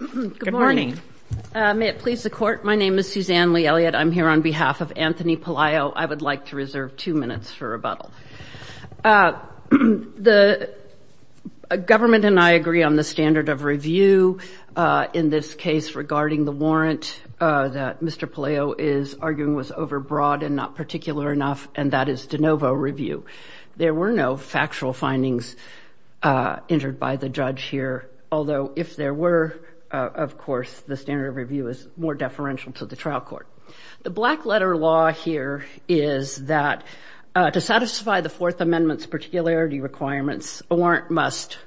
Good morning. May it please the court. My name is Suzanne Lee Elliott. I'm here on behalf of Anthony Pelayo. I would like to reserve two minutes for rebuttal. The government and I agree on the standard of review in this case regarding the warrant that Mr. Pelayo is arguing was overbroad and not particular enough, and that is de novo review. There were no factual findings entered by the judge here, although if there were, of course, the standard of review is more deferential to the trial court. The black letter law here is that to satisfy the Fourth Amendment's particularity requirements, a warrant must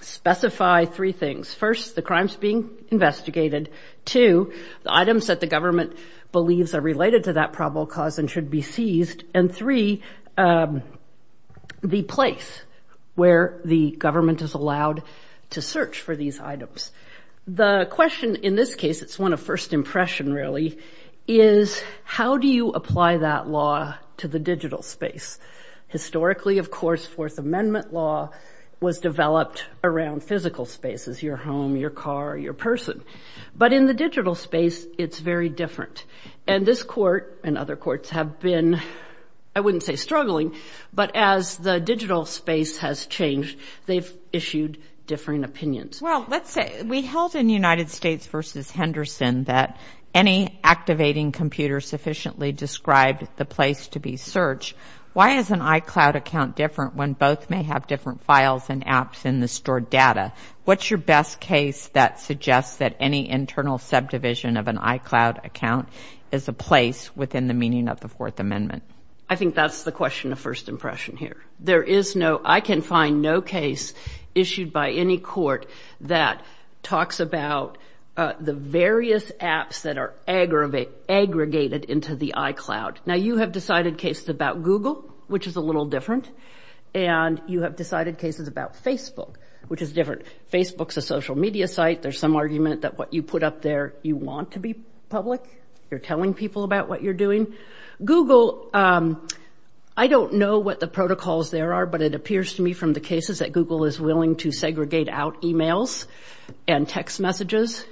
specify three things. First, the crimes being investigated. Two, the items that the government believes are related to that probable cause and should be seized. And three, the place where the government is allowed to search for these items. The question in this case, it's one of first impression really, is how do you apply that law to the digital space? Historically, of course, Fourth Amendment law was developed around physical spaces, your home, your car, your person. But in the digital space, it's very different. And this court and other courts have been, I wouldn't say struggling, but as the digital space has changed, they've issued differing opinions. Well, let's say we held in United States v. Henderson that any activating computer sufficiently described the place to be searched. Why is an iCloud account different when both may have different files and apps in the stored data? What's your best case that suggests that any internal subdivision of an iCloud account is a place within the meaning of the Fourth Amendment? I think that's the question of first impression here. There is no, I can find no case issued by any court that talks about the various apps that are aggregated into the iCloud. Now, you have decided cases about Google, which is a little different, and you have decided cases about Facebook, which is different. Facebook's a social media site. There's some argument that what you put up there, you want to be public. You're telling people about what you're doing. Google, I don't know what the protocols there are, but it appears to me from the cases that Google is willing to segregate out e-mails and text messages.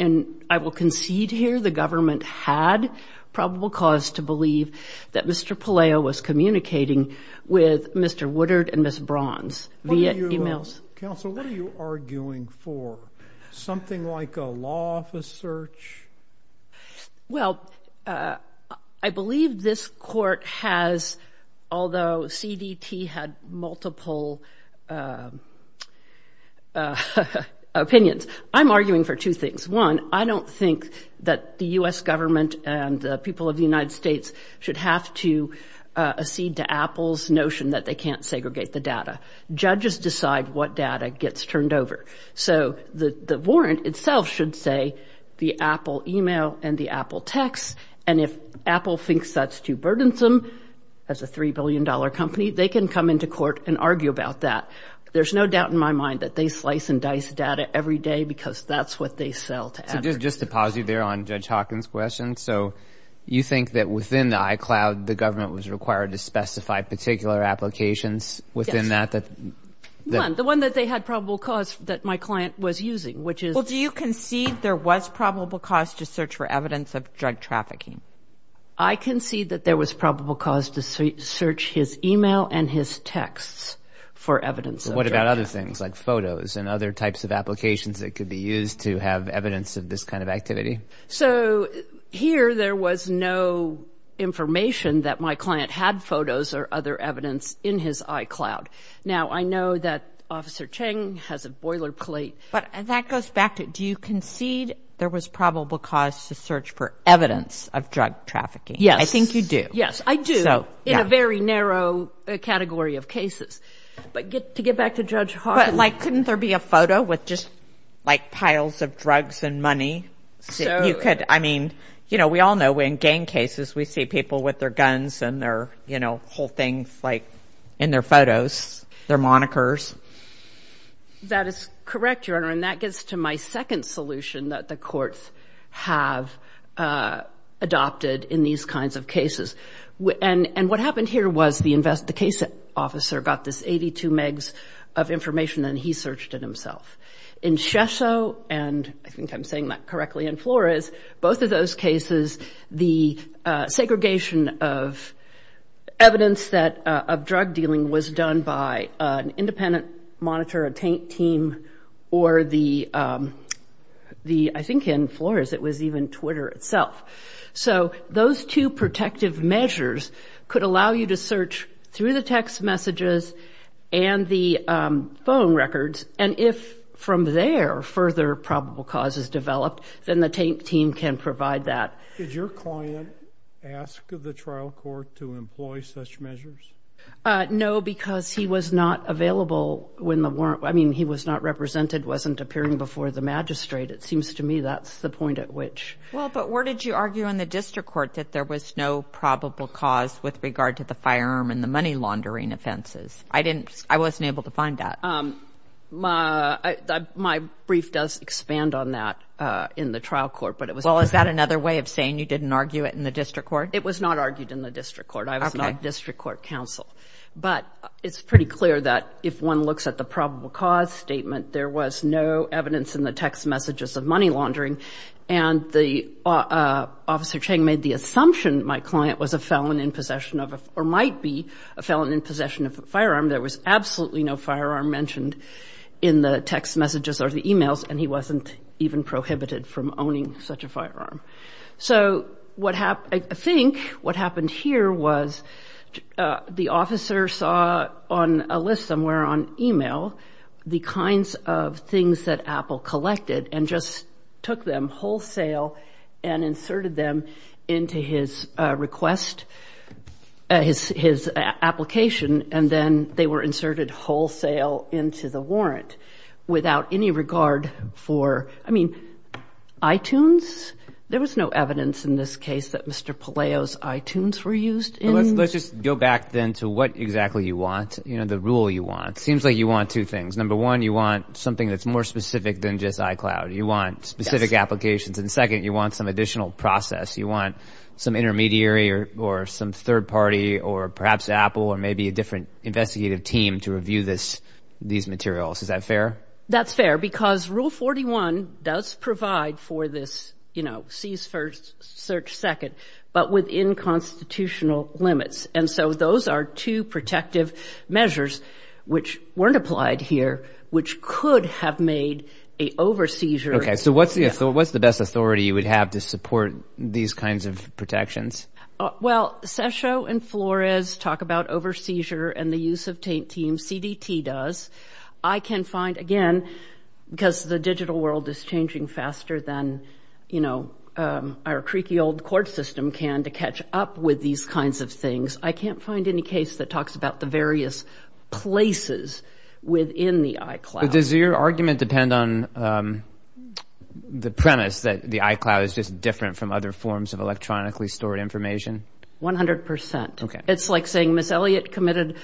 And I will concede here the government had probable cause to believe that Mr. Palaio was communicating with Mr. Woodard and Ms. Bronze via e-mails. Counsel, what are you arguing for? Something like a law office search? Well, I believe this court has, although CDT had multiple opinions, I'm arguing for two things. One, I don't think that the U.S. government and the people of the United States should have to accede to Apple's notion that they can't segregate the data. Judges decide what data gets turned over. So the warrant itself should say the Apple e-mail and the Apple text, and if Apple thinks that's too burdensome as a $3 billion company, they can come into court and argue about that. There's no doubt in my mind that they slice and dice data every day because that's what they sell to advertisers. Just to pause you there on Judge Hawkins' question, so you think that within the iCloud the government was required to specify particular applications within that? Yes. One, the one that they had probable cause that my client was using, which is... Well, do you concede there was probable cause to search for evidence of drug trafficking? I concede that there was probable cause to search his e-mail and his texts for evidence of drug trafficking. And other things like photos and other types of applications that could be used to have evidence of this kind of activity? So here there was no information that my client had photos or other evidence in his iCloud. Now, I know that Officer Cheng has a boilerplate. But that goes back to do you concede there was probable cause to search for evidence of drug trafficking? Yes. I think you do. Yes, I do. So, yeah. In a very narrow category of cases. But to get back to Judge Hawkins... But, like, couldn't there be a photo with just, like, piles of drugs and money? So... You could, I mean, you know, we all know in gang cases we see people with their guns and their, you know, whole things, like, in their photos, their monikers. That is correct, Your Honor. And that gets to my second solution that the courts have adopted in these kinds of cases. And what happened here was the case officer got this 82 megs of information and he searched it himself. In Shesso, and I think I'm saying that correctly, and Flores, both of those cases, the segregation of evidence of drug dealing was done by an independent monitor, a TAINT team, or the... I think in Flores it was even Twitter itself. So those two protective measures could allow you to search through the text messages and the phone records. And if, from there, further probable cause is developed, then the TAINT team can provide that. Did your client ask the trial court to employ such measures? No, because he was not available when the warrant... I mean, he was not represented, wasn't appearing before the magistrate. It seems to me that's the point at which... Well, but where did you argue in the district court that there was no probable cause with regard to the firearm and the money laundering offenses? I didn't... I wasn't able to find that. My brief does expand on that in the trial court, but it was... Well, is that another way of saying you didn't argue it in the district court? It was not argued in the district court. I was not district court counsel. But it's pretty clear that if one looks at the probable cause statement, there was no evidence in the text messages of money laundering. And Officer Cheng made the assumption my client was a felon in possession of... or might be a felon in possession of a firearm. There was absolutely no firearm mentioned in the text messages or the emails, and he wasn't even prohibited from owning such a firearm. So what happened... I think what happened here was the officer saw on a list somewhere on email the kinds of things that Apple collected and just took them wholesale and inserted them into his request... his application, and then they were inserted wholesale into the warrant without any regard for... I mean, iTunes? There was no evidence in this case that Mr. Palaio's iTunes were used in... Let's just go back then to what exactly you want, you know, the rule you want. It seems like you want two things. Number one, you want something that's more specific than just iCloud. You want specific applications. And second, you want some additional process. You want some intermediary or some third party or perhaps Apple or maybe a different investigative team to review these materials. Is that fair? That's fair because Rule 41 does provide for this, you know, seize first, search second, but within constitutional limits. And so those are two protective measures which weren't applied here, which could have made a over-seizure... Okay, so what's the best authority you would have to support these kinds of protections? Well, Sessio and Flores talk about over-seizure and the use of teams. CDT does. I can find, again, because the digital world is changing faster than, you know, our creaky old court system can to catch up with these kinds of things. I can't find any case that talks about the various places within the iCloud. But does your argument depend on the premise that the iCloud is just different from other forms of electronically stored information? 100%. Okay. It's like saying Ms. Elliott committed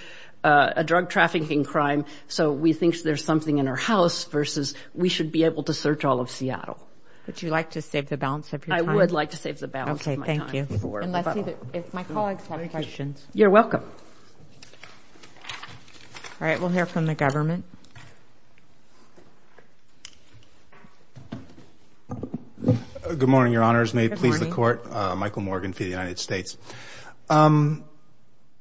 a drug trafficking crime, so we think there's something in her house versus we should be able to search all of Seattle. Would you like to save the balance of your time? I would like to save the balance of my time. Okay, thank you. And let's see if my colleagues have questions. You're welcome. All right, we'll hear from the government. Good morning, Your Honors. May it please the Court. Michael Morgan for the United States. I'd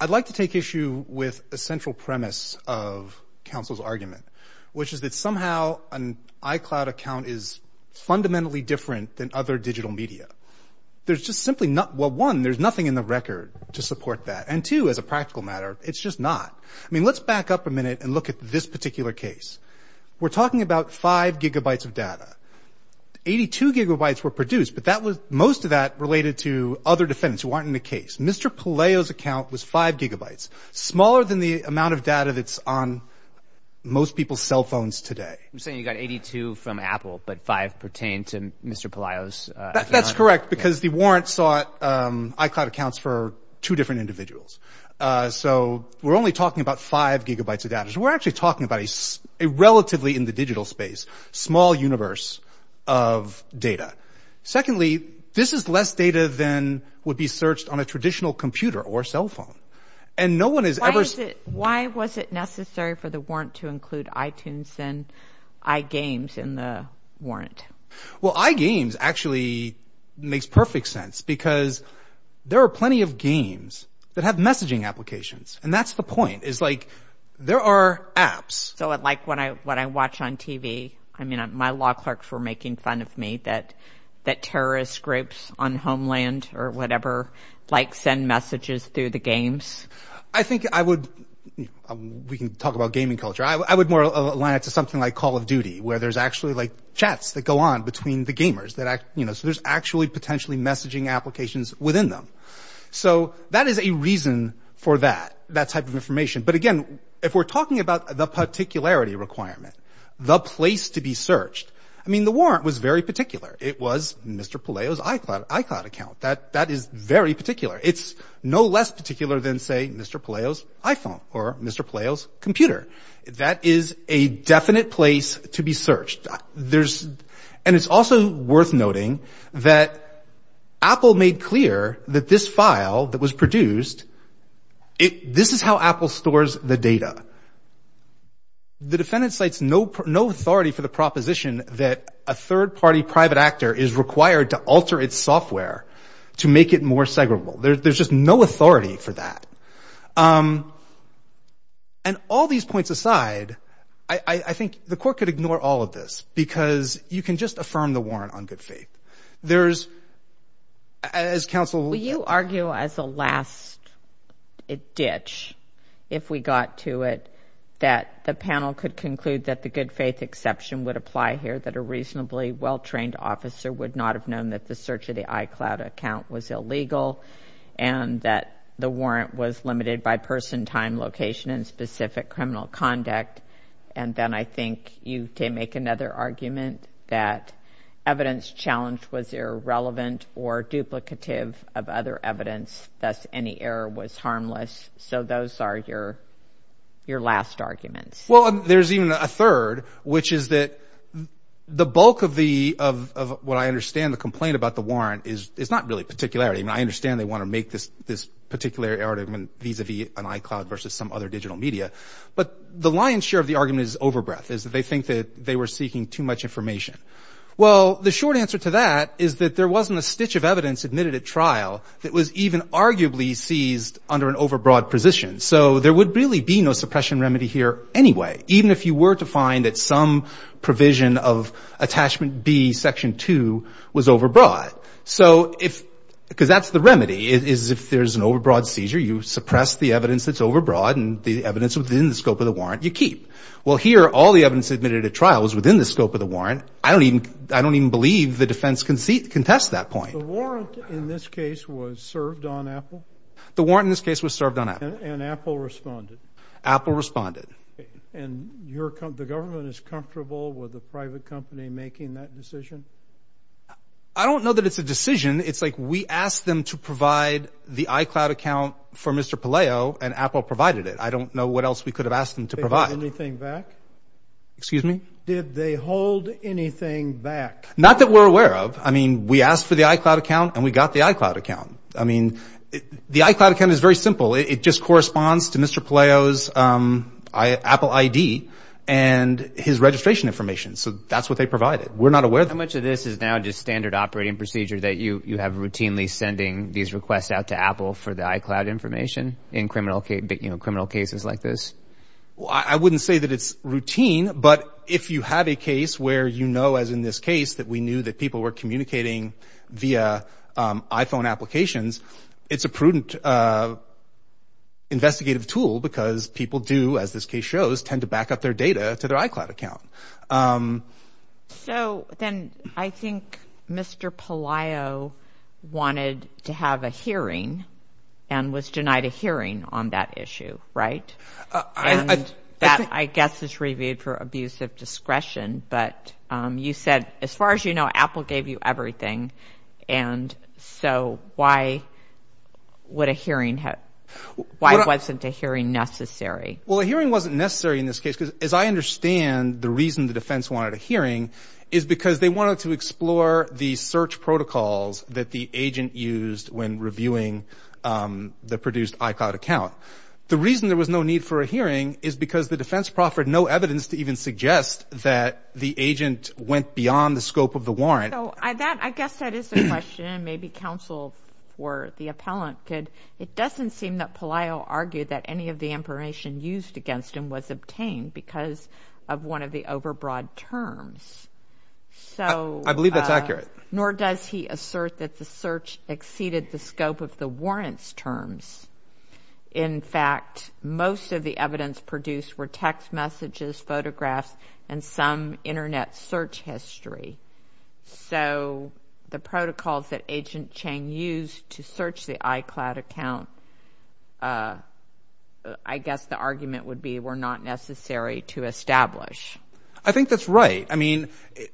like to take issue with a central premise of counsel's argument, which is that somehow an iCloud account is fundamentally different than other digital media. There's just simply not one. There's nothing in the record to support that. And two, as a practical matter, it's just not. I mean, let's back up a minute and look at this particular case. We're talking about 5 gigabytes of data. 82 gigabytes were produced, but most of that related to other defendants who aren't in the case. Mr. Palaio's account was 5 gigabytes, smaller than the amount of data that's on most people's cell phones today. You're saying you got 82 from Apple, but 5 pertained to Mr. Palaio's account? That's correct, because the warrant sought iCloud accounts for two different individuals. So we're only talking about 5 gigabytes of data. So we're actually talking about a relatively, in the digital space, small universe of data. Secondly, this is less data than would be searched on a traditional computer or cell phone. Why was it necessary for the warrant to include iTunes and iGames in the warrant? Well, iGames actually makes perfect sense, because there are plenty of games that have messaging applications. And that's the point, is like there are apps. So like what I watch on TV, I mean, my law clerks were making fun of me, that terrorist groups on Homeland or whatever like send messages through the games. I think I would – we can talk about gaming culture. I would more align it to something like Call of Duty, where there's actually like chats that go on between the gamers. So there's actually potentially messaging applications within them. So that is a reason for that, that type of information. But again, if we're talking about the particularity requirement, the place to be searched, I mean, the warrant was very particular. It was Mr. Palaio's iCloud account. That is very particular. It's no less particular than, say, Mr. Palaio's iPhone or Mr. Palaio's computer. That is a definite place to be searched. There's – and it's also worth noting that Apple made clear that this file that was produced, this is how Apple stores the data. The defendant cites no authority for the proposition that a third-party private actor is required to alter its software to make it more segregable. There's just no authority for that. And all these points aside, I think the court could ignore all of this because you can just affirm the warrant on good faith. There's – as counsel – I would argue as a last ditch, if we got to it, that the panel could conclude that the good faith exception would apply here, that a reasonably well-trained officer would not have known that the search of the iCloud account was illegal and that the warrant was limited by person, time, location, and specific criminal conduct. And then I think you can make another argument that evidence challenged was irrelevant or duplicative of other evidence, thus any error was harmless. So those are your last arguments. Well, there's even a third, which is that the bulk of the – of what I understand the complaint about the warrant is not really particularity. I mean, I understand they want to make this particular argument vis-a-vis an iCloud versus some other digital media. But the lion's share of the argument is overbreath, is that they think that they were seeking too much information. Well, the short answer to that is that there wasn't a stitch of evidence admitted at trial that was even arguably seized under an overbroad position. So there would really be no suppression remedy here anyway, even if you were to find that some provision of Attachment B, Section 2, was overbroad. So if – because that's the remedy, is if there's an overbroad seizure, you suppress the evidence that's overbroad and the evidence within the scope of the warrant you keep. Well, here all the evidence admitted at trial was within the scope of the warrant. I don't even believe the defense can test that point. The warrant in this case was served on Apple? The warrant in this case was served on Apple. And Apple responded? Apple responded. And the government is comfortable with a private company making that decision? I don't know that it's a decision. It's like we asked them to provide the iCloud account for Mr. Palaio, and Apple provided it. I don't know what else we could have asked them to provide. Did they hold anything back? Excuse me? Did they hold anything back? Not that we're aware of. I mean, we asked for the iCloud account, and we got the iCloud account. I mean, the iCloud account is very simple. It just corresponds to Mr. Palaio's Apple ID and his registration information. So that's what they provided. We're not aware of that. How much of this is now just standard operating procedure that you have routinely sending these requests out to Apple for the iCloud information in criminal cases like this? I wouldn't say that it's routine, but if you have a case where you know, as in this case, that we knew that people were communicating via iPhone applications, it's a prudent investigative tool because people do, as this case shows, tend to back up their data to their iCloud account. So then I think Mr. Palaio wanted to have a hearing and was denied a hearing on that issue, right? And that, I guess, is reviewed for abuse of discretion. But you said, as far as you know, Apple gave you everything. And so why would a hearing have why wasn't a hearing necessary? Well, a hearing wasn't necessary in this case. As I understand, the reason the defense wanted a hearing is because they wanted to explore the search protocols that the agent used when reviewing the produced iCloud account. The reason there was no need for a hearing is because the defense proffered no evidence to even suggest that the agent went beyond the scope of the warrant. So I guess that is the question. Maybe counsel or the appellant could. It doesn't seem that Palaio argued that any of the information used against him was obtained because of one of the overbroad terms. I believe that's accurate. Nor does he assert that the search exceeded the scope of the warrants terms. In fact, most of the evidence produced were text messages, photographs, and some Internet search history. So the protocols that Agent Chang used to search the iCloud account, I guess the argument would be, were not necessary to establish. I think that's right. I mean,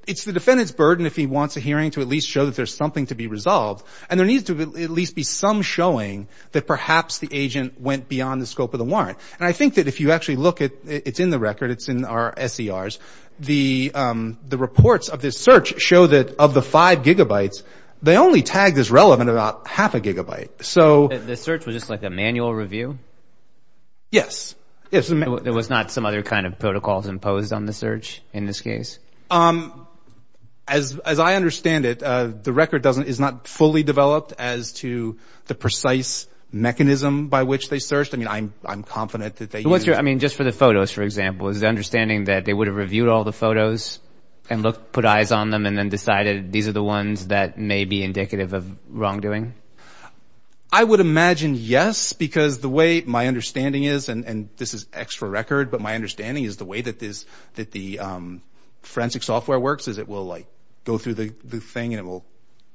it's the defendant's burden if he wants a hearing to at least show that there's something to be resolved. And there needs to at least be some showing that perhaps the agent went beyond the scope of the warrant. And I think that if you actually look at it, it's in the record. It's in our SCRs. The reports of this search show that of the five gigabytes, they only tagged as relevant about half a gigabyte. The search was just like a manual review? Yes. There was not some other kind of protocols imposed on the search in this case? As I understand it, the record is not fully developed as to the precise mechanism by which they searched. I mean, I'm confident that they used it. I mean, just for the photos, for example, is the understanding that they would have reviewed all the photos and put eyes on them and then decided these are the ones that may be indicative of wrongdoing? I would imagine yes, because the way my understanding is, and this is extra record, but my understanding is the way that the forensic software works is it will go through the thing and it will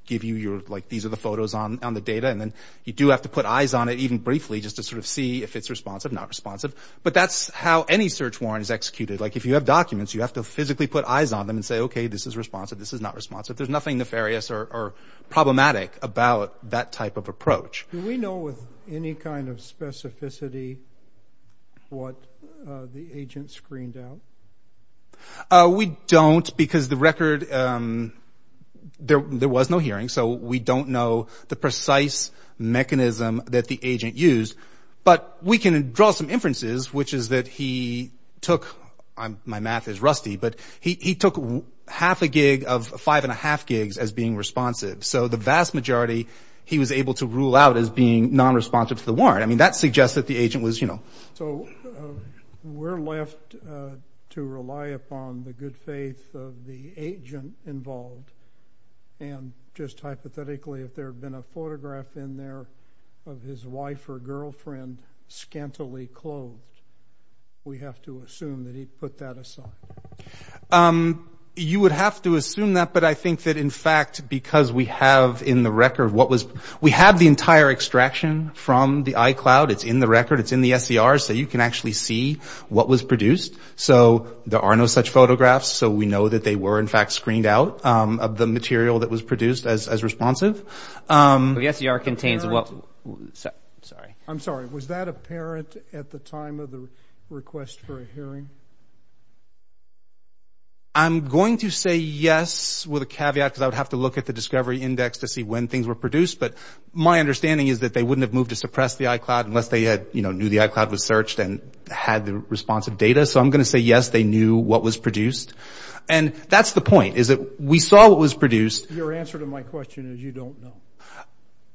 give you your, like, these are the photos on the data. And then you do have to put eyes on it even briefly just to sort of see if it's responsive, not responsive. But that's how any search warrant is executed. Like, if you have documents, you have to physically put eyes on them and say, okay, this is responsive. This is not responsive. There's nothing nefarious or problematic about that type of approach. Do we know with any kind of specificity what the agent screened out? We don't because the record, there was no hearing. So we don't know the precise mechanism that the agent used. But we can draw some inferences, which is that he took, my math is rusty, but he took half a gig of five and a half gigs as being responsive. So the vast majority he was able to rule out as being nonresponsive to the warrant. I mean, that suggests that the agent was, you know. So we're left to rely upon the good faith of the agent involved. And just hypothetically, if there had been a photograph in there of his wife or girlfriend scantily clothed, we have to assume that he put that aside. You would have to assume that, but I think that, in fact, because we have in the record what was, we have the entire extraction from the iCloud. It's in the record. It's in the SCR so you can actually see what was produced. So there are no such photographs. So we know that they were, in fact, screened out of the material that was produced as responsive. The SCR contains what, sorry. I'm sorry. Was that apparent at the time of the request for a hearing? I'm going to say yes with a caveat because I would have to look at the discovery index to see when things were produced. But my understanding is that they wouldn't have moved to suppress the iCloud unless they had, you know, knew the iCloud was searched and had the responsive data. So I'm going to say yes, they knew what was produced. And that's the point is that we saw what was produced. Your answer to my question is you don't know.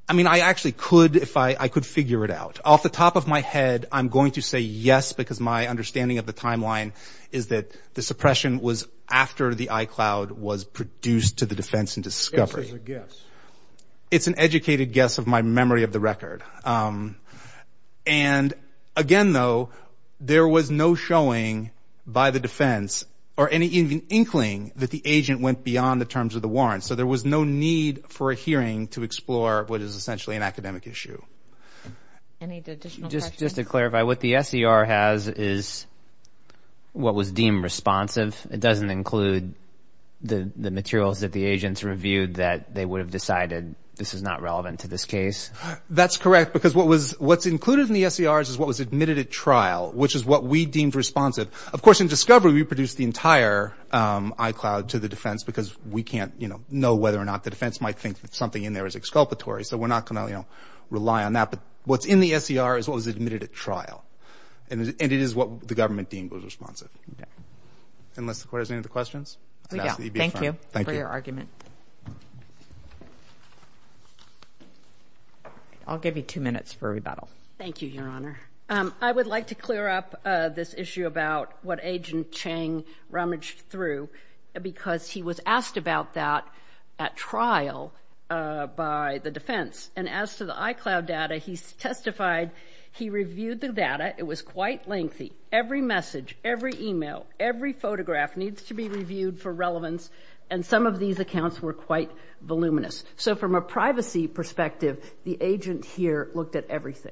I mean, I actually could if I could figure it out. Off the top of my head, I'm going to say yes because my understanding of the timeline is that the suppression was after the iCloud was produced to the defense and discovery. It's an educated guess of my memory of the record. And, again, though, there was no showing by the defense or any inkling that the agent went beyond the terms of the warrant. So there was no need for a hearing to explore what is essentially an academic issue. Any additional questions? Just to clarify, what the SCR has is what was deemed responsive. It doesn't include the materials that the agents reviewed that they would have decided this is not relevant to this case? That's correct because what's included in the SCR is what was admitted at trial, which is what we deemed responsive. Of course, in discovery, we produced the entire iCloud to the defense because we can't, you know, know whether or not the defense might think that something in there is exculpatory. So we're not going to, you know, rely on that. But what's in the SCR is what was admitted at trial. And it is what the government deemed was responsive. Unless the court has any other questions? We don't. Thank you for your argument. I'll give you two minutes for rebuttal. Thank you, Your Honor. I would like to clear up this issue about what Agent Chang rummaged through because he was asked about that at trial by the defense. And as to the iCloud data, he testified he reviewed the data. It was quite lengthy. Every message, every email, every photograph needs to be reviewed for relevance. And some of these accounts were quite voluminous. So from a privacy perspective, the agent here looked at everything.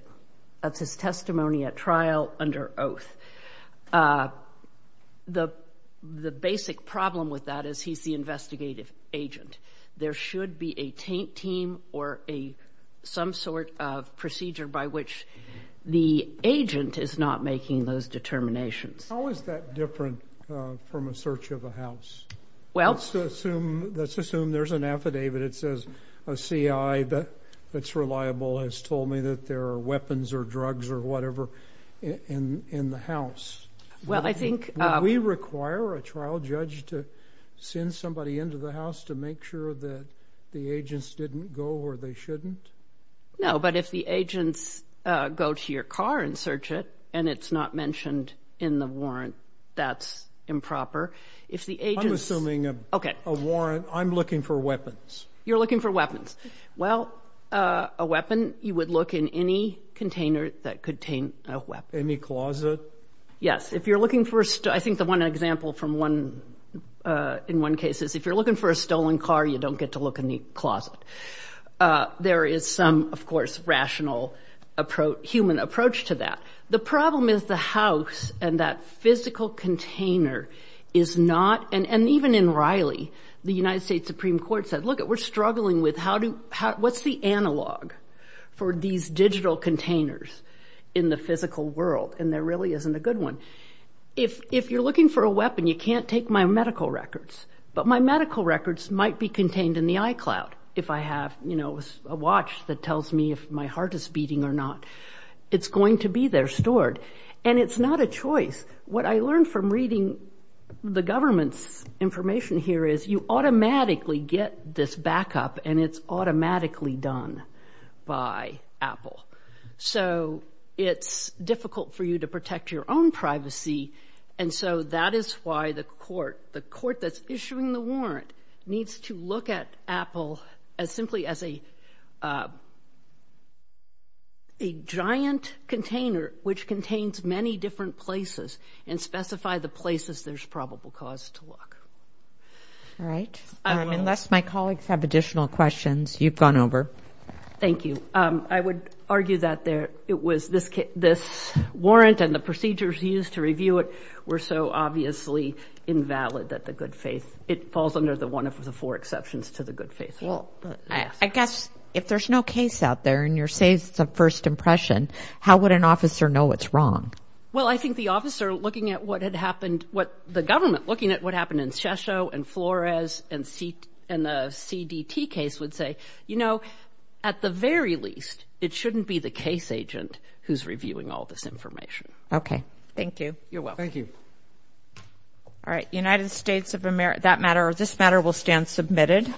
That's his testimony at trial under oath. The basic problem with that is he's the investigative agent. There should be a taint team or some sort of procedure by which the agent is not making those determinations. How is that different from a search of a house? Let's assume there's an affidavit that says a C.I. that's reliable has told me that there are weapons or drugs or whatever in the house. Would we require a trial judge to send somebody into the house to make sure that the agents didn't go where they shouldn't? No, but if the agents go to your car and search it and it's not mentioned in the warrant, that's improper. I'm assuming a warrant, I'm looking for weapons. You're looking for weapons. Well, a weapon, you would look in any container that contained a weapon. Any closet? Yes. If you're looking for, I think the one example in one case is if you're looking for a stolen car, you don't get to look in the closet. There is some, of course, rational human approach to that. The problem is the house and that physical container is not, and even in Riley, the United States Supreme Court said, What's the analog for these digital containers in the physical world? And there really isn't a good one. If you're looking for a weapon, you can't take my medical records, but my medical records might be contained in the iCloud. If I have a watch that tells me if my heart is beating or not, it's going to be there stored. And it's not a choice. What I learned from reading the government's information here is you automatically get this backup, and it's automatically done by Apple. So it's difficult for you to protect your own privacy, and so that is why the court, the court that's issuing the warrant, needs to look at Apple as simply as a giant container which contains many different places and specify the places there's probable cause to look. All right. Unless my colleagues have additional questions, you've gone over. Thank you. I would argue that it was this warrant and the procedures used to review it were so obviously invalid that the good faith, it falls under the one of the four exceptions to the good faith. Well, I guess if there's no case out there and you're saying it's a first impression, how would an officer know what's wrong? Well, I think the officer looking at what had happened, what the government looking at what happened in Shisho and Flores and the CDT case would say, you know, at the very least, it shouldn't be the case agent who's reviewing all this information. Okay. Thank you. You're welcome. Thank you. All right. United States of America, that matter or this matter will stand submitted.